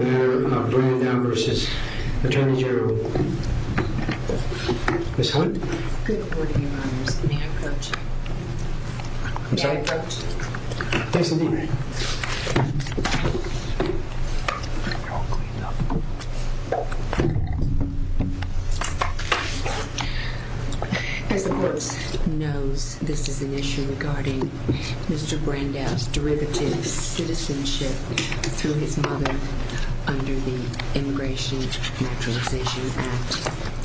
of America, Mayor of Brandao versus Attorney General of United States of America, Ms. Hunt. Good morning, Your Honors. May I approach you? I'm sorry? May I approach you? Thanks for the meeting. As the courts knows, this is an issue regarding Mr. Brandao's derivative citizenship through his mother under the Immigration Naturalization Act, 321.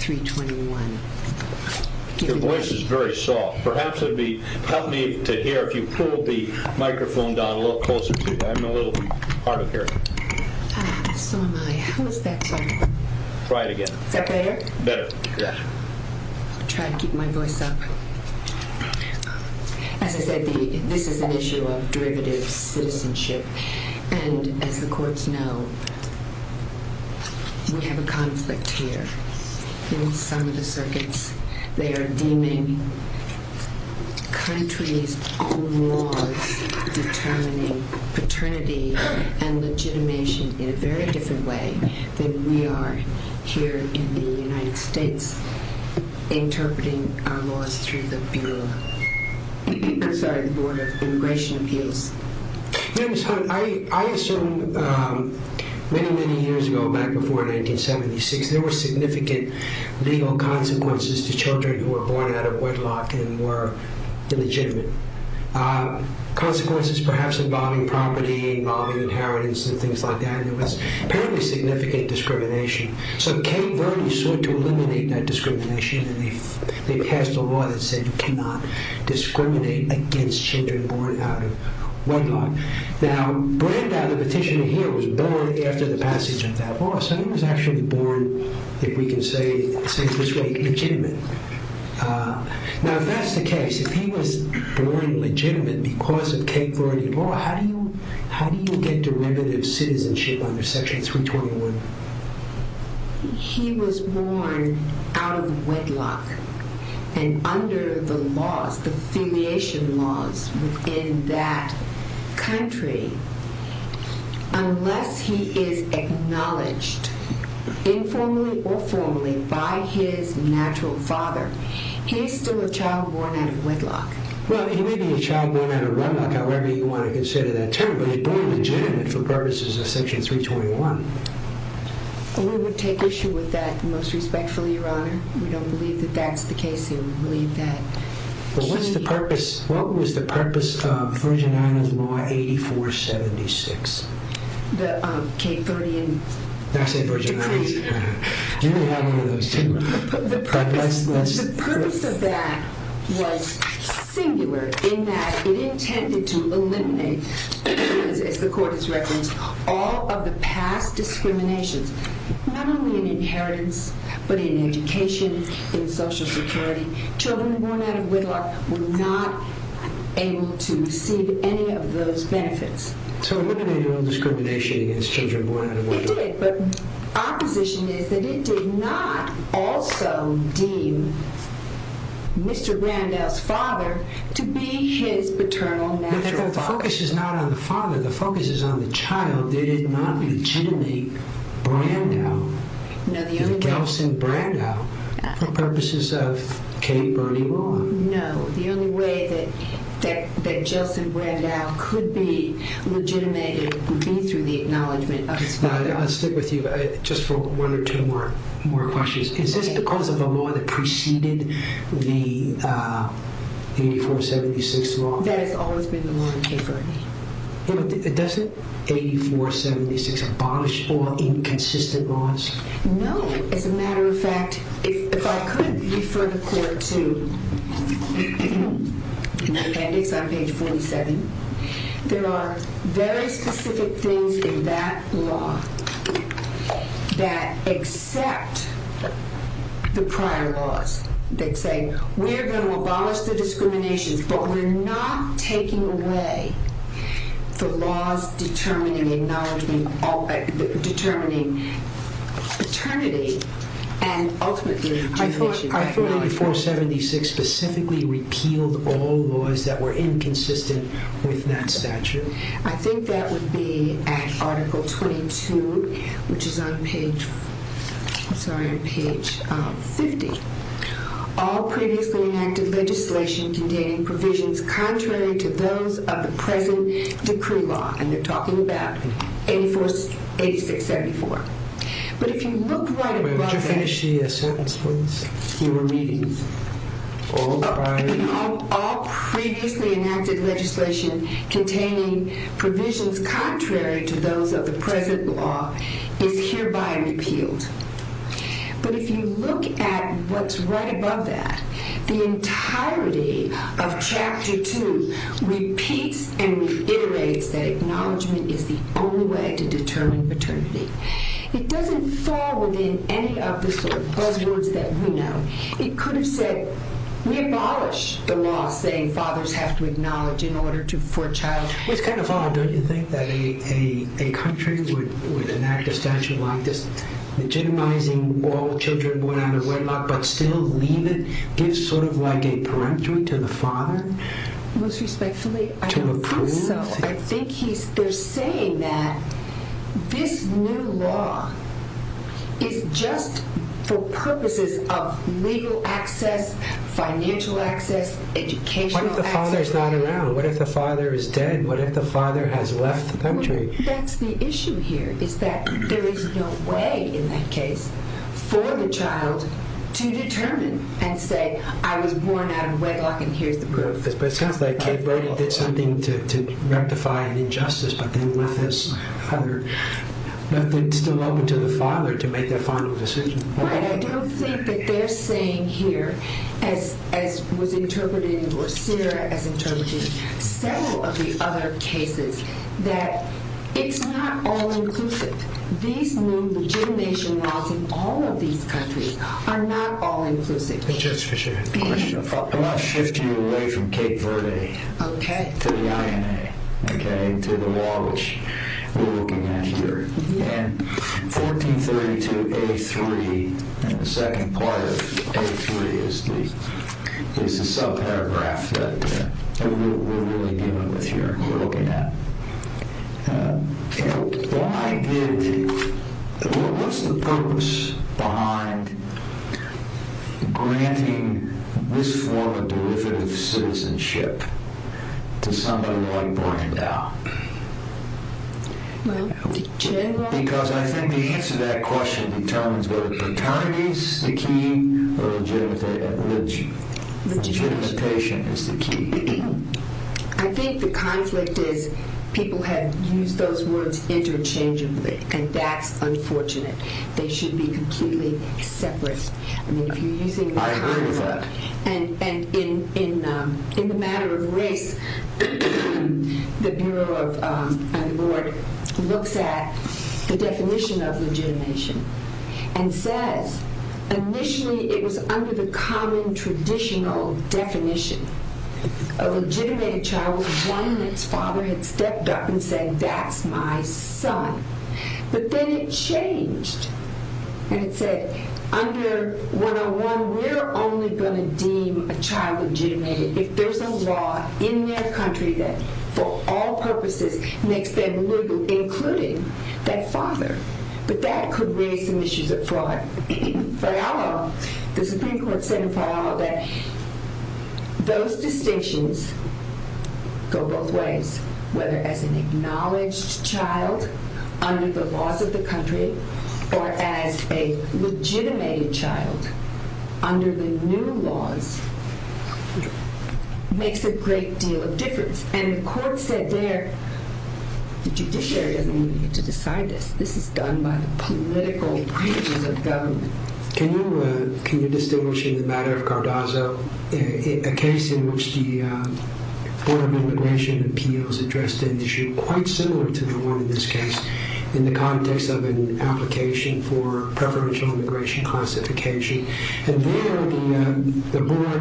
Your voice is very soft. Perhaps it would help me to hear if you pull the microphone down a little closer to you. I'm a little hard of hearing. So am I. How is that sound? Try it again. Is that better? Better. I'll try to keep my voice up. As I said, this is an issue of derivative citizenship. And as the courts know, we have a conflict here in some of the circuits. They are deeming countries' own laws determining paternity and legitimation in a very different way than we are here in the United States interpreting our laws through the Bureau. I'm sorry, the Board of Immigration Appeals. I assume many, many years ago, back before 1976, there were significant legal consequences to children who were born out of wedlock and were illegitimate. Consequences perhaps involving property, involving inheritance and things like that. Apparently significant discrimination. So Cape Verde sought to eliminate that discrimination. And they passed a law that said you cannot discriminate against children born out of wedlock. Now, Brandau, the petitioner here, was born after the passage of that law. So he was actually born, if we can say it this way, legitimate. Now, if that's the case, if he was born legitimate because of Cape Verde law, how do you get derivative citizenship under Section 321? He was born out of wedlock. And under the laws, the affiliation laws in that country, unless he is acknowledged informally or formally by his natural father, Well, he may be a child born out of wedlock, however you want to consider that term. But he was born legitimate for purposes of Section 321. We would take issue with that most respectfully, Your Honor. We don't believe that that's the case. We believe that he... But what's the purpose, what was the purpose of Virginia's law 8476? The Cape Verdean... That's in Virginia. You may have one of those too. The purpose of that was singular in that it intended to eliminate, as the Court has referenced, all of the past discriminations, not only in inheritance, but in education, in Social Security. Children born out of wedlock were not able to receive any of those benefits. So it eliminated all discrimination against children born out of wedlock. It did, but our position is that it did not also deem Mr. Brandau's father to be his paternal natural father. The focus is not on the father. The focus is on the child. They did not legitimate Brandau, Gelson Brandau, for purposes of Cape Verdean law. No, the only way that Gelson Brandau could be legitimated would be through the acknowledgement of his father. I'll stick with you just for one or two more questions. Is this because of the law that preceded the 8476 law? That has always been the law in Cape Verde. Doesn't 8476 abolish all inconsistent laws? No. As a matter of fact, if I could refer the Court to appendix on page 47, there are very specific things in that law that accept the prior laws. They say, we're going to abolish the discriminations, but we're not taking away the laws determining paternity. I thought 8476 specifically repealed all laws that were inconsistent with that statute. I think that would be at article 22, which is on page 50. All previously enacted legislation containing provisions contrary to those of the present decree law, and they're talking about 8674. Could you finish the sentence, please? All previously enacted legislation containing provisions contrary to those of the present law is hereby repealed. But if you look at what's right above that, the entirety of chapter 2 repeats and reiterates that acknowledgement is the only way to determine paternity. It doesn't fall within any of the buzzwords that we know. It could have said, we abolish the law saying fathers have to acknowledge for a child. It's kind of odd, don't you think, that a country would enact a statute like this, legitimizing all children born out of wedlock but still leave it, gives sort of like a peremptory to the father? Most respectfully, I don't think so. I think they're saying that this new law is just for purposes of legal access, financial access, educational access. What if the father's not around? What if the father is dead? What if the father has left the country? That's the issue here, is that there is no way in that case for the child to determine and say, I was born out of wedlock and here's the proof. It's kind of like Cape Verde did something to rectify an injustice, but then left it still open to the father to make that final decision. Right, I don't think that they're saying here, as was interpreted, or Sarah has interpreted several of the other cases, that it's not all inclusive. These new legitimation laws in all of these countries are not all inclusive. I'm going to shift you away from Cape Verde to the INA, to the law which we're looking at here. And 1432A3, the second part of A3, is the subparagraph that we're really dealing with here and looking at. What's the purpose behind granting this form of derivative citizenship to somebody like Brandau? Because I think the answer to that question determines whether paternity is the key or legitimization is the key. I think the conflict is people have used those words interchangeably and that's unfortunate. They should be completely separate. I agree with that. And in the matter of race, the Bureau and the Board looks at the definition of legitimation and says, initially it was under the common traditional definition. A legitimated child was one whose father had stepped up and said, that's my son. But then it changed and it said, under 101, we're only going to deem a child legitimated if there's a law in their country that, for all purposes, makes them legal, including that father. But that could raise some issues of fraud. For our law, the Supreme Court said in our law that those distinctions go both ways, whether as an acknowledged child under the laws of the country or as a legitimated child under the new laws, makes a great deal of difference. And the court said there, the judiciary isn't going to get to decide this. This is done by the political branches of government. Can you distinguish in the matter of Cardozo a case in which the Board of Immigration Appeals addressed an issue quite similar to the one in this case in the context of an application for preferential immigration classification? And there, the board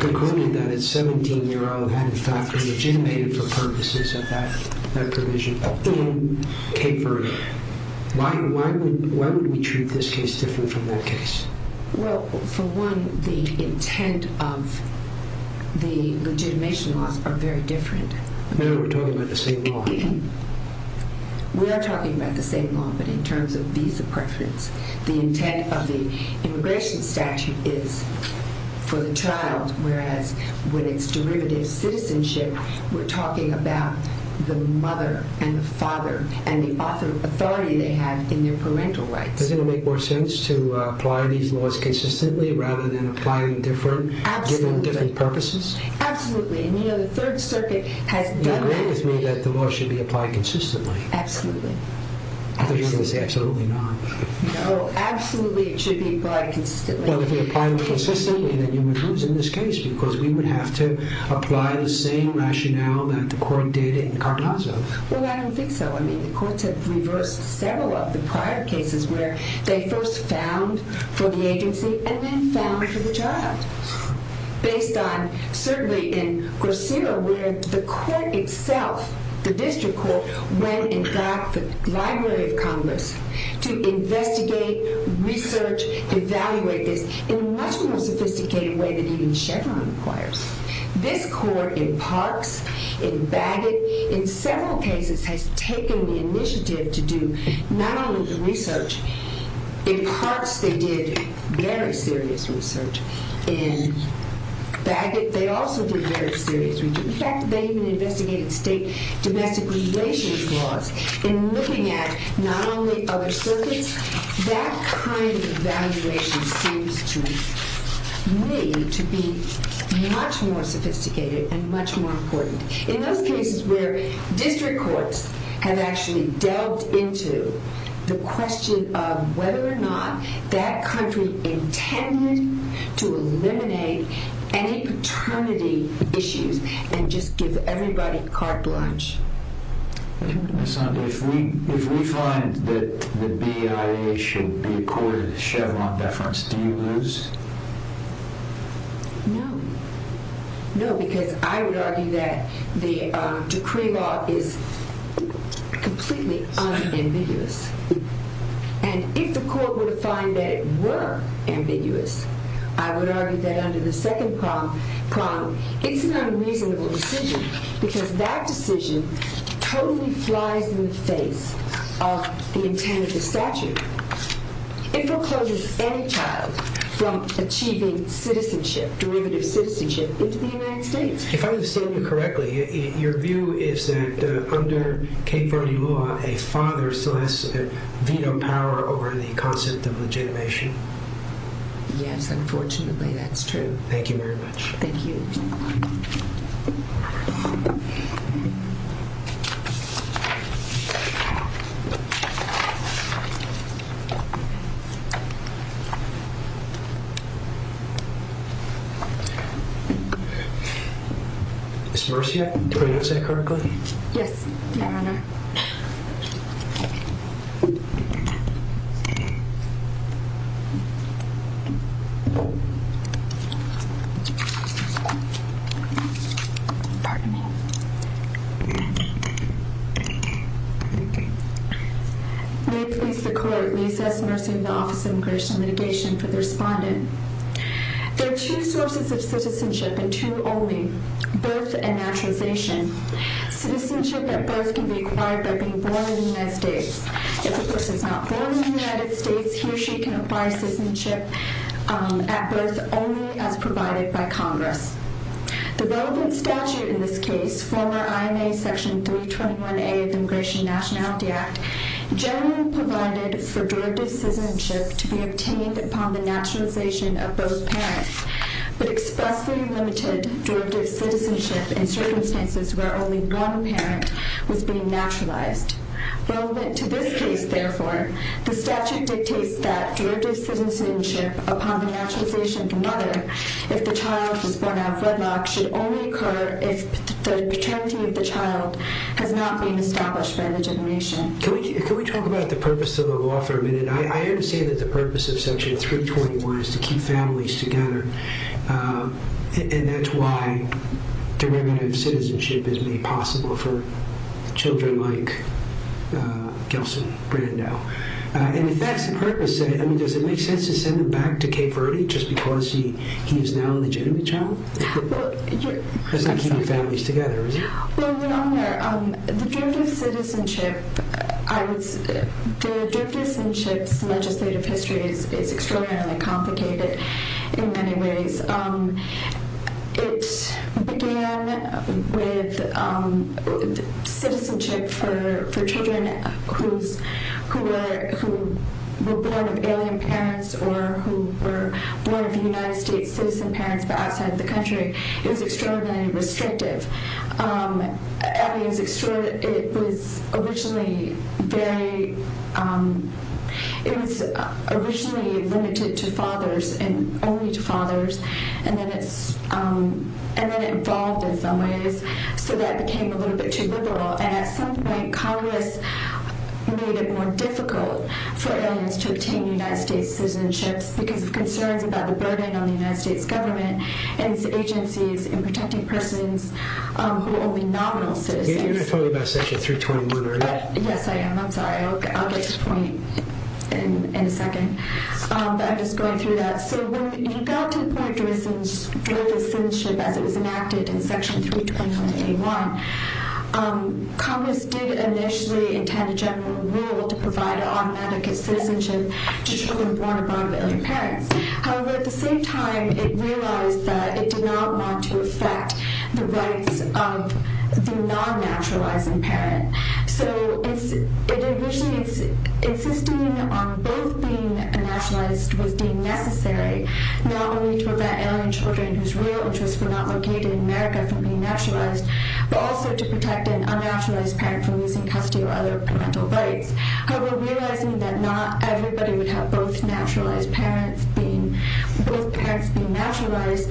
concluded that a 17-year-old had, in fact, been legitimated for purposes of that provision. Why would we treat this case different from that case? Well, for one, the intent of the legitimation laws are very different. We're talking about the same law. We are talking about the same law, but in terms of visa preference. The intent of the immigration statute is for the child, whereas when it's derivative citizenship, we're talking about the mother and the father and the authority they have in their parental rights. Does it make more sense to apply these laws consistently rather than apply them given different purposes? Absolutely. And you know, the Third Circuit has done that to me. You agree with me that the law should be applied consistently? Absolutely. I thought you were going to say absolutely not. No, absolutely it should be applied consistently. Well, if we apply them consistently, then you would lose in this case, because we would have to apply the same rationale that the court did in Carnazo. Well, I don't think so. I mean, the courts have reversed several of the prior cases where they first found for the agency and then found for the child, based on certainly in Grossero where the court itself, the district court, went and got the Library of Congress to investigate, research, evaluate this in a much more sophisticated way than even Chevron requires. This court in Parks, in Bagot, in several cases has taken the initiative to do not only the research. In Parks, they did very serious research. In Bagot, they also did very serious research. In fact, they even investigated state domestic relations laws in looking at not only other circuits. That kind of evaluation seems to me to be much more sophisticated and much more important. In those cases where district courts have actually delved into the question of whether or not that country intended to eliminate any paternity issues and just give everybody carte blanche. If we find that the BIA should be accorded a Chevron deference, do you lose? No. No, because I would argue that the decree law is completely unambiguous. And if the court were to find that it were ambiguous, I would argue that under the second prong, it's an unreasonable decision because that decision totally flies in the face of the intent of the statute. It forecloses any child from achieving citizenship, derivative citizenship, into the United States. If I understand you correctly, your view is that under Cape Verde law, a father still has veto power over the concept of legitimation. Yes, unfortunately that's true. Thank you very much. Thank you. Ms. Mercier, did I say that correctly? Yes, Your Honor. Pardon me. May it please the Court, Lisa S. Mercier of the Office of Immigration and Litigation for the respondent. There are two sources of citizenship and two only, birth and naturalization. Citizenship at birth can be acquired by being born in the United States. If a person is not born in the United States, he or she can acquire citizenship at birth only as provided by Congress. The relevant statute in this case, former IMA Section 321A of the Immigration and Nationality Act, generally provided for derivative citizenship to be obtained upon the naturalization of both parents, but expressly limited derivative citizenship in circumstances where only one parent was being naturalized. Relevant to this case, therefore, the statute dictates that derivative citizenship upon the naturalization of the mother, if the child is born out of wedlock, should only occur if the paternity of the child has not been established by the generation. Can we talk about the purpose of the law for a minute? I understand that the purpose of Section 321 is to keep families together, and that's why derivative citizenship is made possible for children like Gelson Brando. And if that's the purpose, does it make sense to send him back to Cape Verde just because he is now a legitimate child? It doesn't keep families together, does it? Well, Your Honor, the derivative citizenship's legislative history is extraordinarily complicated in many ways. It began with citizenship for children who were born of alien parents or who were born of United States citizen parents but outside the country. It was extraordinarily restrictive. It was originally limited to fathers and only to fathers, and then it evolved in some ways so that it became a little bit too liberal. And at some point, Congress made it more difficult for aliens to obtain United States citizenships because of concerns about the burden on the United States government and its agencies in protecting persons who are only nominal citizens. You're going to talk about Section 321, aren't you? Yes, I am. I'm sorry. I'll get to the point in a second. But I'm just going through that. So when we got to the point of derivative citizenship as it was enacted in Section 321A1, Congress did initially intend a general rule to provide automatic citizenship to children born of non-alien parents. However, at the same time, it realized that it did not want to affect the rights of the non-naturalizing parent. So initially, insisting on both being naturalized was deemed necessary, not only to prevent alien children whose real interests were not located in America from being naturalized but also to protect an unnaturalized parent from losing custody or other parental rights. However, realizing that not everybody would have both naturalized parents if both parents were naturalized,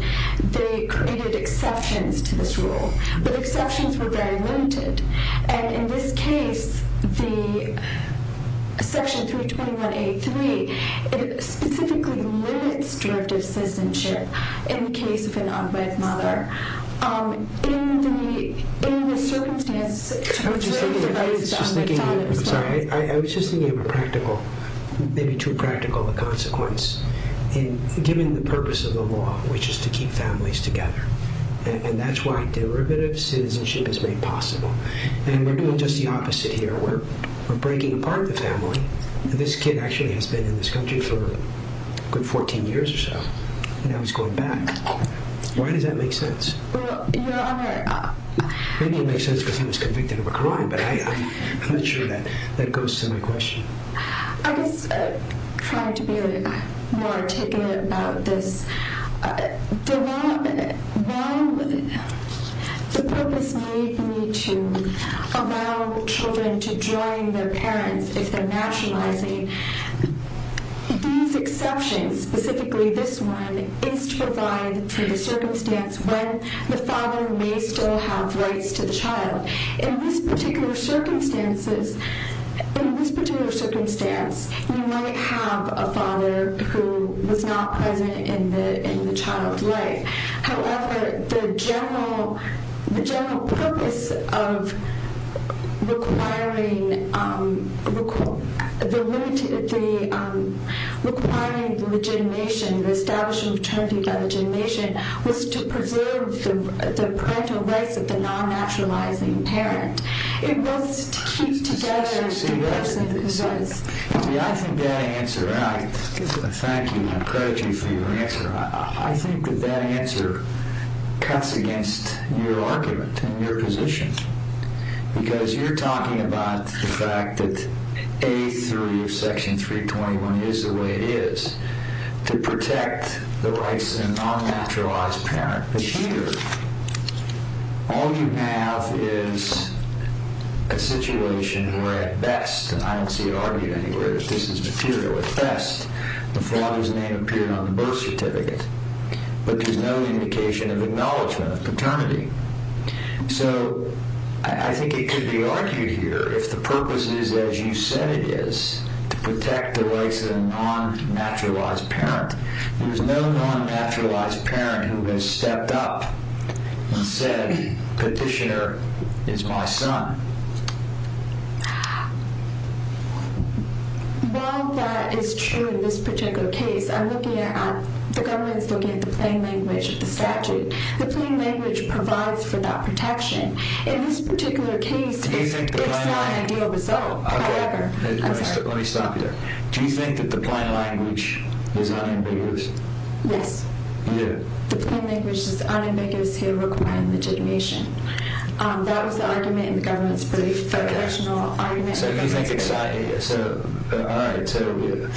they created exceptions to this rule. But exceptions were very limited. And in this case, Section 321A3 specifically limits derivative citizenship in the case of an unwed mother. In the circumstance... I was just thinking of a practical, maybe too practical a consequence. Given the purpose of the law, which is to keep families together, and that's why derivative citizenship is made possible. And we're doing just the opposite here. We're breaking apart the family. This kid actually has been in this country for a good 14 years or so, and now he's going back. Why does that make sense? Well, Your Honor... Maybe it makes sense because I was convicted of a crime, but I'm not sure that goes to my question. I was trying to be more articulate about this. The purpose may be to allow children to join their parents if they're naturalizing. These exceptions, specifically this one, is to provide for the circumstance when the father may still have rights to the child. In this particular circumstance, you might have a father who was not present in the child's life. However, the general purpose of requiring the legitimation, the establishment of paternity by legitimation, was to preserve the parental rights of the non-naturalizing parent. It was to keep together the rights and the concerns. I think that answer... Thank you, and I'm proud of you for your answer. I think that that answer cuts against your argument and your position because you're talking about the fact that A3 of Section 321 is the way it is to protect the rights of a non-naturalized parent. But here, all you have is a situation where, at best, and I don't see it argued anywhere, this is material at best, the father's name appeared on the birth certificate, but there's no indication of acknowledgment of paternity. So I think it could be argued here if the purpose is, as you said it is, to protect the rights of the non-naturalized parent. There's no non-naturalized parent who has stepped up and said, Petitioner is my son. While that is true in this particular case, I'm looking at... The government's looking at the plain language of the statute. The plain language provides for that protection. In this particular case, it's not an ideal result. However... Let me stop you there. Do you think that the plain language is unambiguous? Yes. Yeah. The plain language is unambiguous here requiring legitimation. That was the argument in the government's brief. So you think it's... All right. So you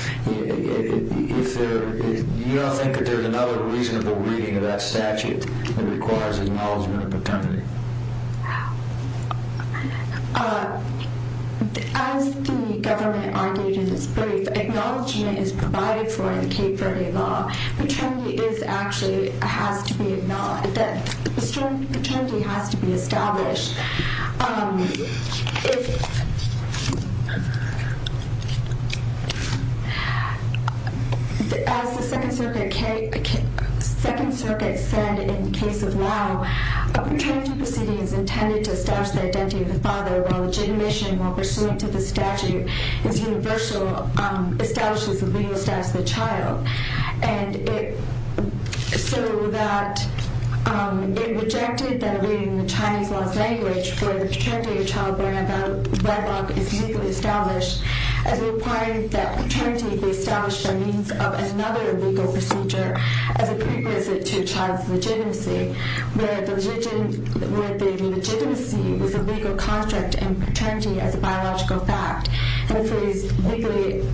don't think that there's another reasonable reading of that statute that requires acknowledgment of paternity? No. As the government argued in its brief, acknowledgment is provided for in Cape Verde law. Paternity is actually... A strong paternity has to be established. As the Second Circuit said in the case of Lau, a paternity proceeding is intended to establish the identity of the father while legitimation while pursuant to the statute is universal, establishes the legal status of the child. And it... So that... It rejected that reading the Chinese law's language where the paternity of a child born out of wedlock is legally established as it requires that paternity be established by means of another legal procedure as a prerequisite to a child's legitimacy where the legitimacy is a legal construct and paternity as a biological fact. And the phrase legally...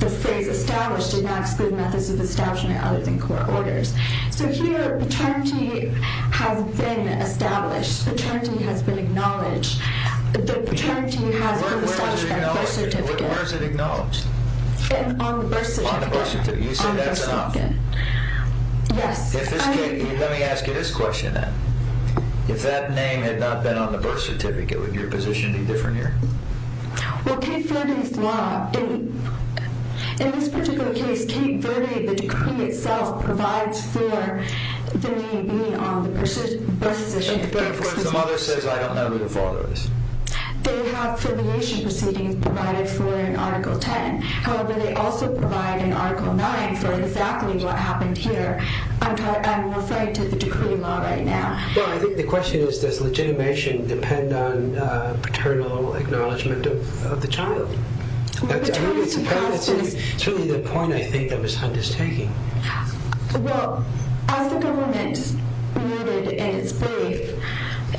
The phrase established did not exclude methods of establishment other than court orders. So here paternity has been established. Paternity has been acknowledged. The paternity has been established by the birth certificate. Where is it acknowledged? On the birth certificate. On the birth certificate. You say that's enough. Yes. If this... Let me ask you this question then. If that name had not been on the birth certificate, would your position be different here? Well, Cape Verde's law... In this particular case, Cape Verde, the decree itself, provides for the name being on the birth certificate. In other words, the mother says, I don't know who the father is. They have affiliation proceedings provided for in Article 10. However, they also provide in Article 9 for exactly what happened here. I'm referring to the decree law right now. Well, I think the question is, does legitimation depend on paternal acknowledgement of the child? Well, paternity... That's certainly the point I think that Ms. Hunt is taking. Well, as the government rooted in its faith,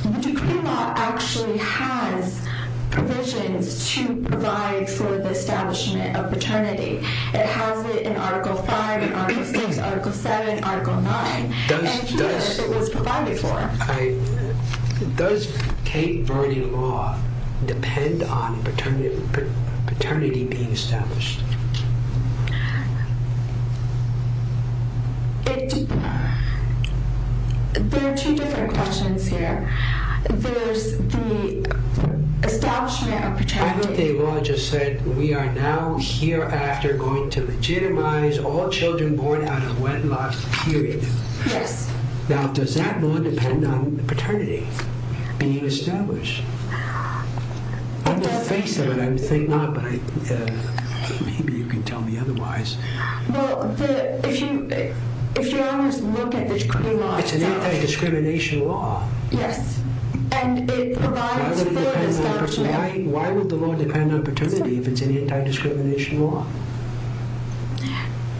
the decree law actually has provisions to provide for the establishment of paternity. It has it in Article 5, in Article 6, Article 7, Article 9. And here it was provided for. Does Cape Verde law depend on paternity being established? There are two different questions here. There's the establishment of paternity... I thought the law just said, we are now hereafter going to legitimize all children born out of wedlock, period. Yes. Now, does that law depend on paternity being established? On the face of it, I think not, but maybe you can tell me otherwise. Well, if you honestly look at the decree law itself... It's an anti-discrimination law. Yes. And it provides for the establishment... Why would the law depend on paternity if it's an anti-discrimination law?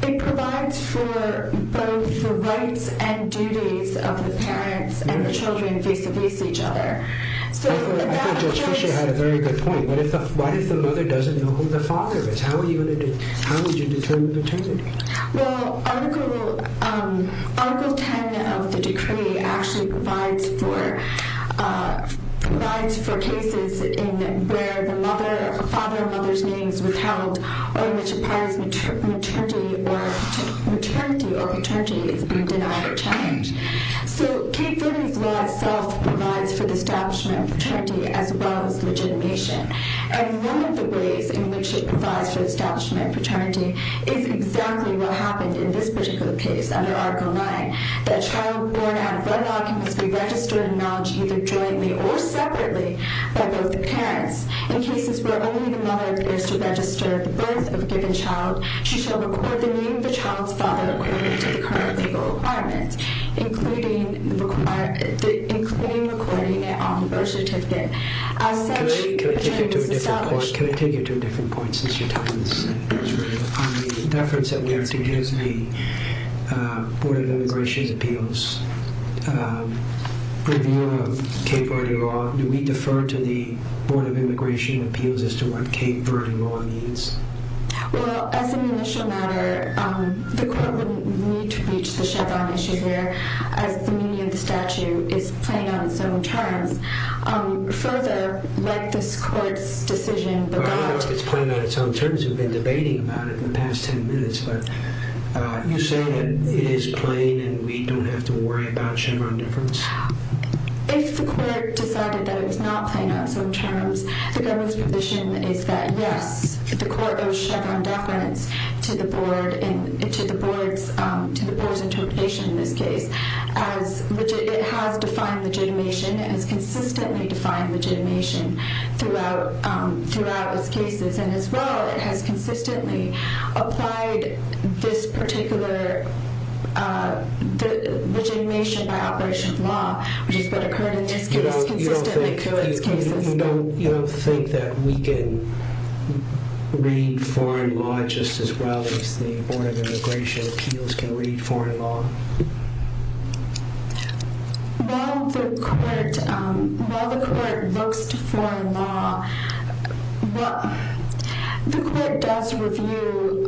It provides for both the rights and duties of the parents and the children face-to-face with each other. I thought Judge Fisher had a very good point. What if the mother doesn't know who the father is? How would you determine paternity? Well, Article 10 of the decree actually provides for cases where the father or mother's name is withheld or in which a parent's maternity or paternity is denied or challenged. So Cape Verde's law itself provides for the establishment of paternity as well as legitimation. And one of the ways in which it provides for the establishment of paternity is exactly what happened in this particular case under Article 9, that a child born out of wedlock must be registered and acknowledged either jointly or separately by both the parents. In cases where only the mother appears to register the birth of a given child, she shall record the name of the child's father according to the current legal requirements, including recording it on the birth certificate. Can I take you to a different point since your time is up? On the deference that we have to his, the Board of Immigration's appeals, review of Cape Verde law, do we defer to the Board of Immigration appeals as to what Cape Verde law means? Well, as an initial matter, the court wouldn't need to reach the shutdown issue there as the meaning of the statute is playing on its own terms. Further, like this court's decision, the Board... Well, I know it's playing on its own terms. We've been debating about it the past ten minutes. But you say that it is plain and we don't have to worry about Chevron deference? If the court decided that it was not playing on its own terms, the government's position is that yes, the court owes Chevron deference to the Board's interpretation in this case. It has defined legitimation. It has consistently defined legitimation throughout its cases. And as well, it has consistently applied this particular legitimation by operation of law, which is what occurred in this case consistently throughout its cases. You don't think that we can read foreign law just as well as the Board of Immigration appeals can read foreign law? While the court looks to foreign law, the court does review...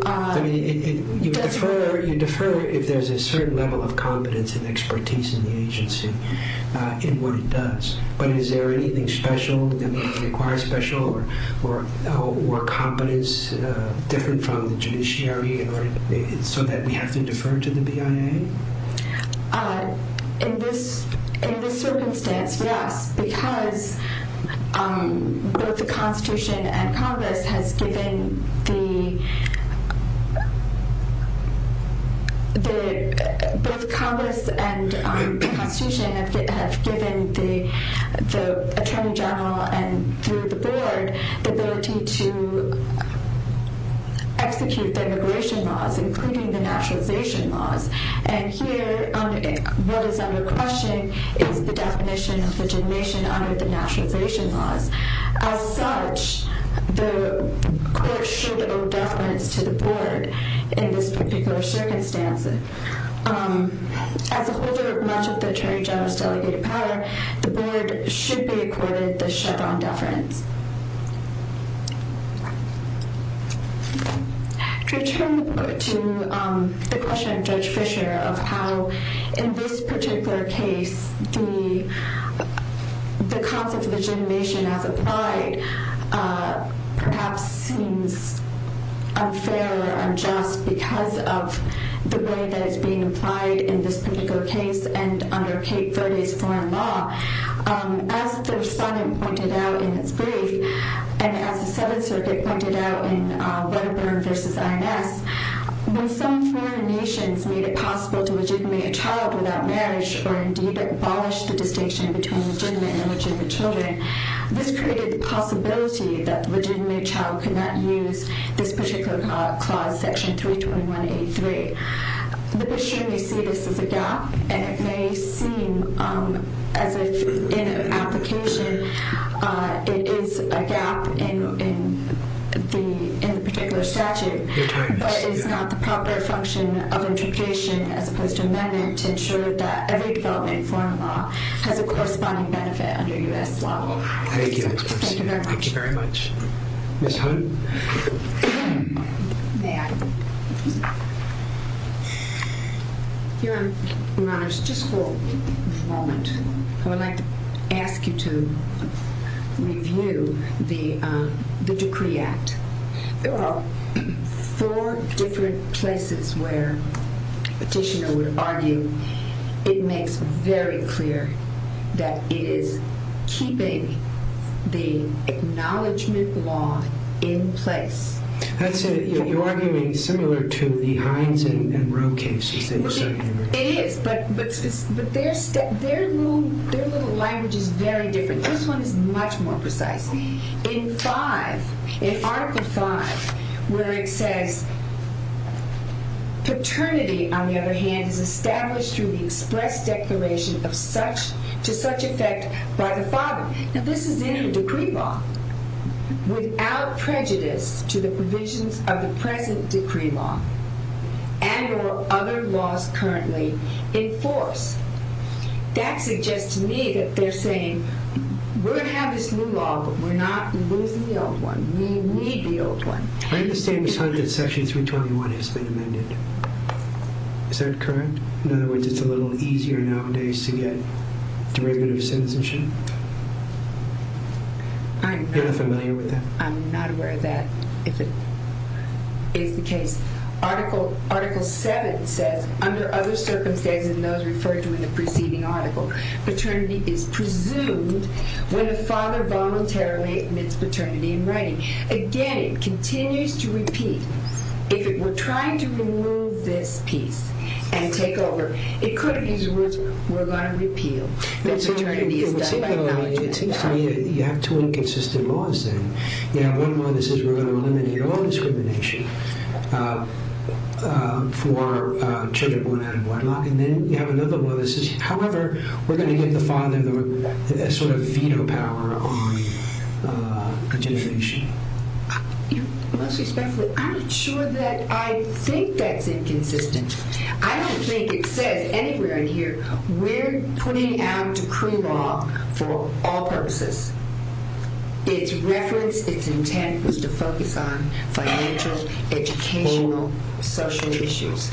You defer if there's a certain level of competence and expertise in the agency in what it does. But is there anything special that requires special or competence different from the judiciary so that we have to defer to the BIA? In this circumstance, yes. Because both the Constitution and Congress have given the Attorney General and through the Board the ability to execute the immigration laws, including the naturalization laws. And here, what is under question is the definition of legitimation under the naturalization laws. As such, the court should owe deference to the Board in this particular circumstance. As a holder of much of the Attorney General's delegated power, the Board should be accorded the Chevron deference. To return to the question of Judge Fischer of how in this particular case the concept of legitimation as applied perhaps seems unfair or unjust because of the way that it's being applied in this particular case and under Cape Verde's foreign law, as the Respondent pointed out in its brief and as the Seventh Circuit pointed out in Wedderburn v. INS, when some foreign nations made it possible to legitimate a child without marriage or indeed abolish the distinction between legitimate and illegitimate children, this created the possibility that the legitimate child could not use this particular clause, section 321.83. The Bishop may see this as a gap, and it may seem as if in application it is a gap in the particular statute, but it's not the proper function of interpretation as opposed to amendment to ensure that every development in foreign law has a corresponding benefit under U.S. law. Thank you. Thank you very much. Thank you very much. Ms. Hunt? Your Honor, just for a moment, I would like to ask you to review the Decree Act. There are four different places where Petitioner would argue it makes very clear that it is keeping the Acknowledgement Law in place. That's it. You're arguing similar to the Hines and Roe cases that you're saying. It is, but their little language is very different. This one is much more precise. In 5, in Article 5, where it says, Paternity, on the other hand, is established through the express declaration to such effect by the father. Now, this is in the decree law without prejudice to the provisions of the present decree law and or other laws currently in force. That suggests to me that they're saying we're going to have this new law, but we're not losing the old one. We need the old one. I understand, Ms. Hunt, that Section 321 has been amended. Is that correct? In other words, it's a little easier nowadays to get derivative citizenship. You're not familiar with that? I'm not aware of that, if it is the case. Article 7 says, under other circumstances than those referred to in the preceding article, paternity is presumed when a father voluntarily admits paternity in writing. Again, it continues to repeat. If it were trying to remove this piece and take over, it could have used the words, we're going to repeal. It seems to me that you have two inconsistent laws then. You have one law that says we're going to eliminate all discrimination for children born out of wedlock. Then you have another one that says, however, we're going to get the father veto power on adjudication. Most respectfully, I'm not sure that I think that's inconsistent. I don't think it says anywhere in here, we're putting out decree law for all purposes. Its reference, its intent, is to focus on financial, educational, social issues.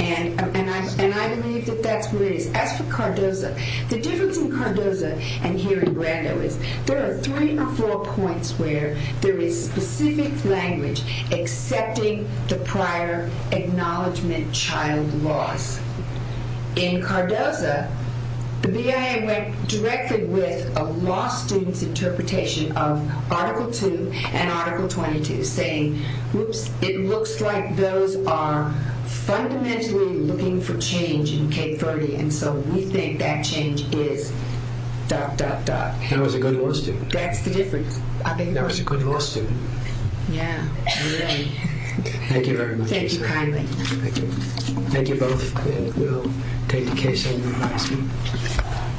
I believe that that's what it is. As for Cardoza, the difference in Cardoza and here in Brando is, there are three or four points where there is specific language accepting the prior acknowledgement child laws. In Cardoza, the BIA went directly with a law student's interpretation of Article 2 and Article 22, saying, whoops, it looks like those are fundamentally looking for change in K-30. We think that change is dot, dot, dot. That was a good law student. That's the difference. That was a good law student. Yeah, really. Thank you very much. Thank you kindly. Thank you both. We'll take the case and revise it.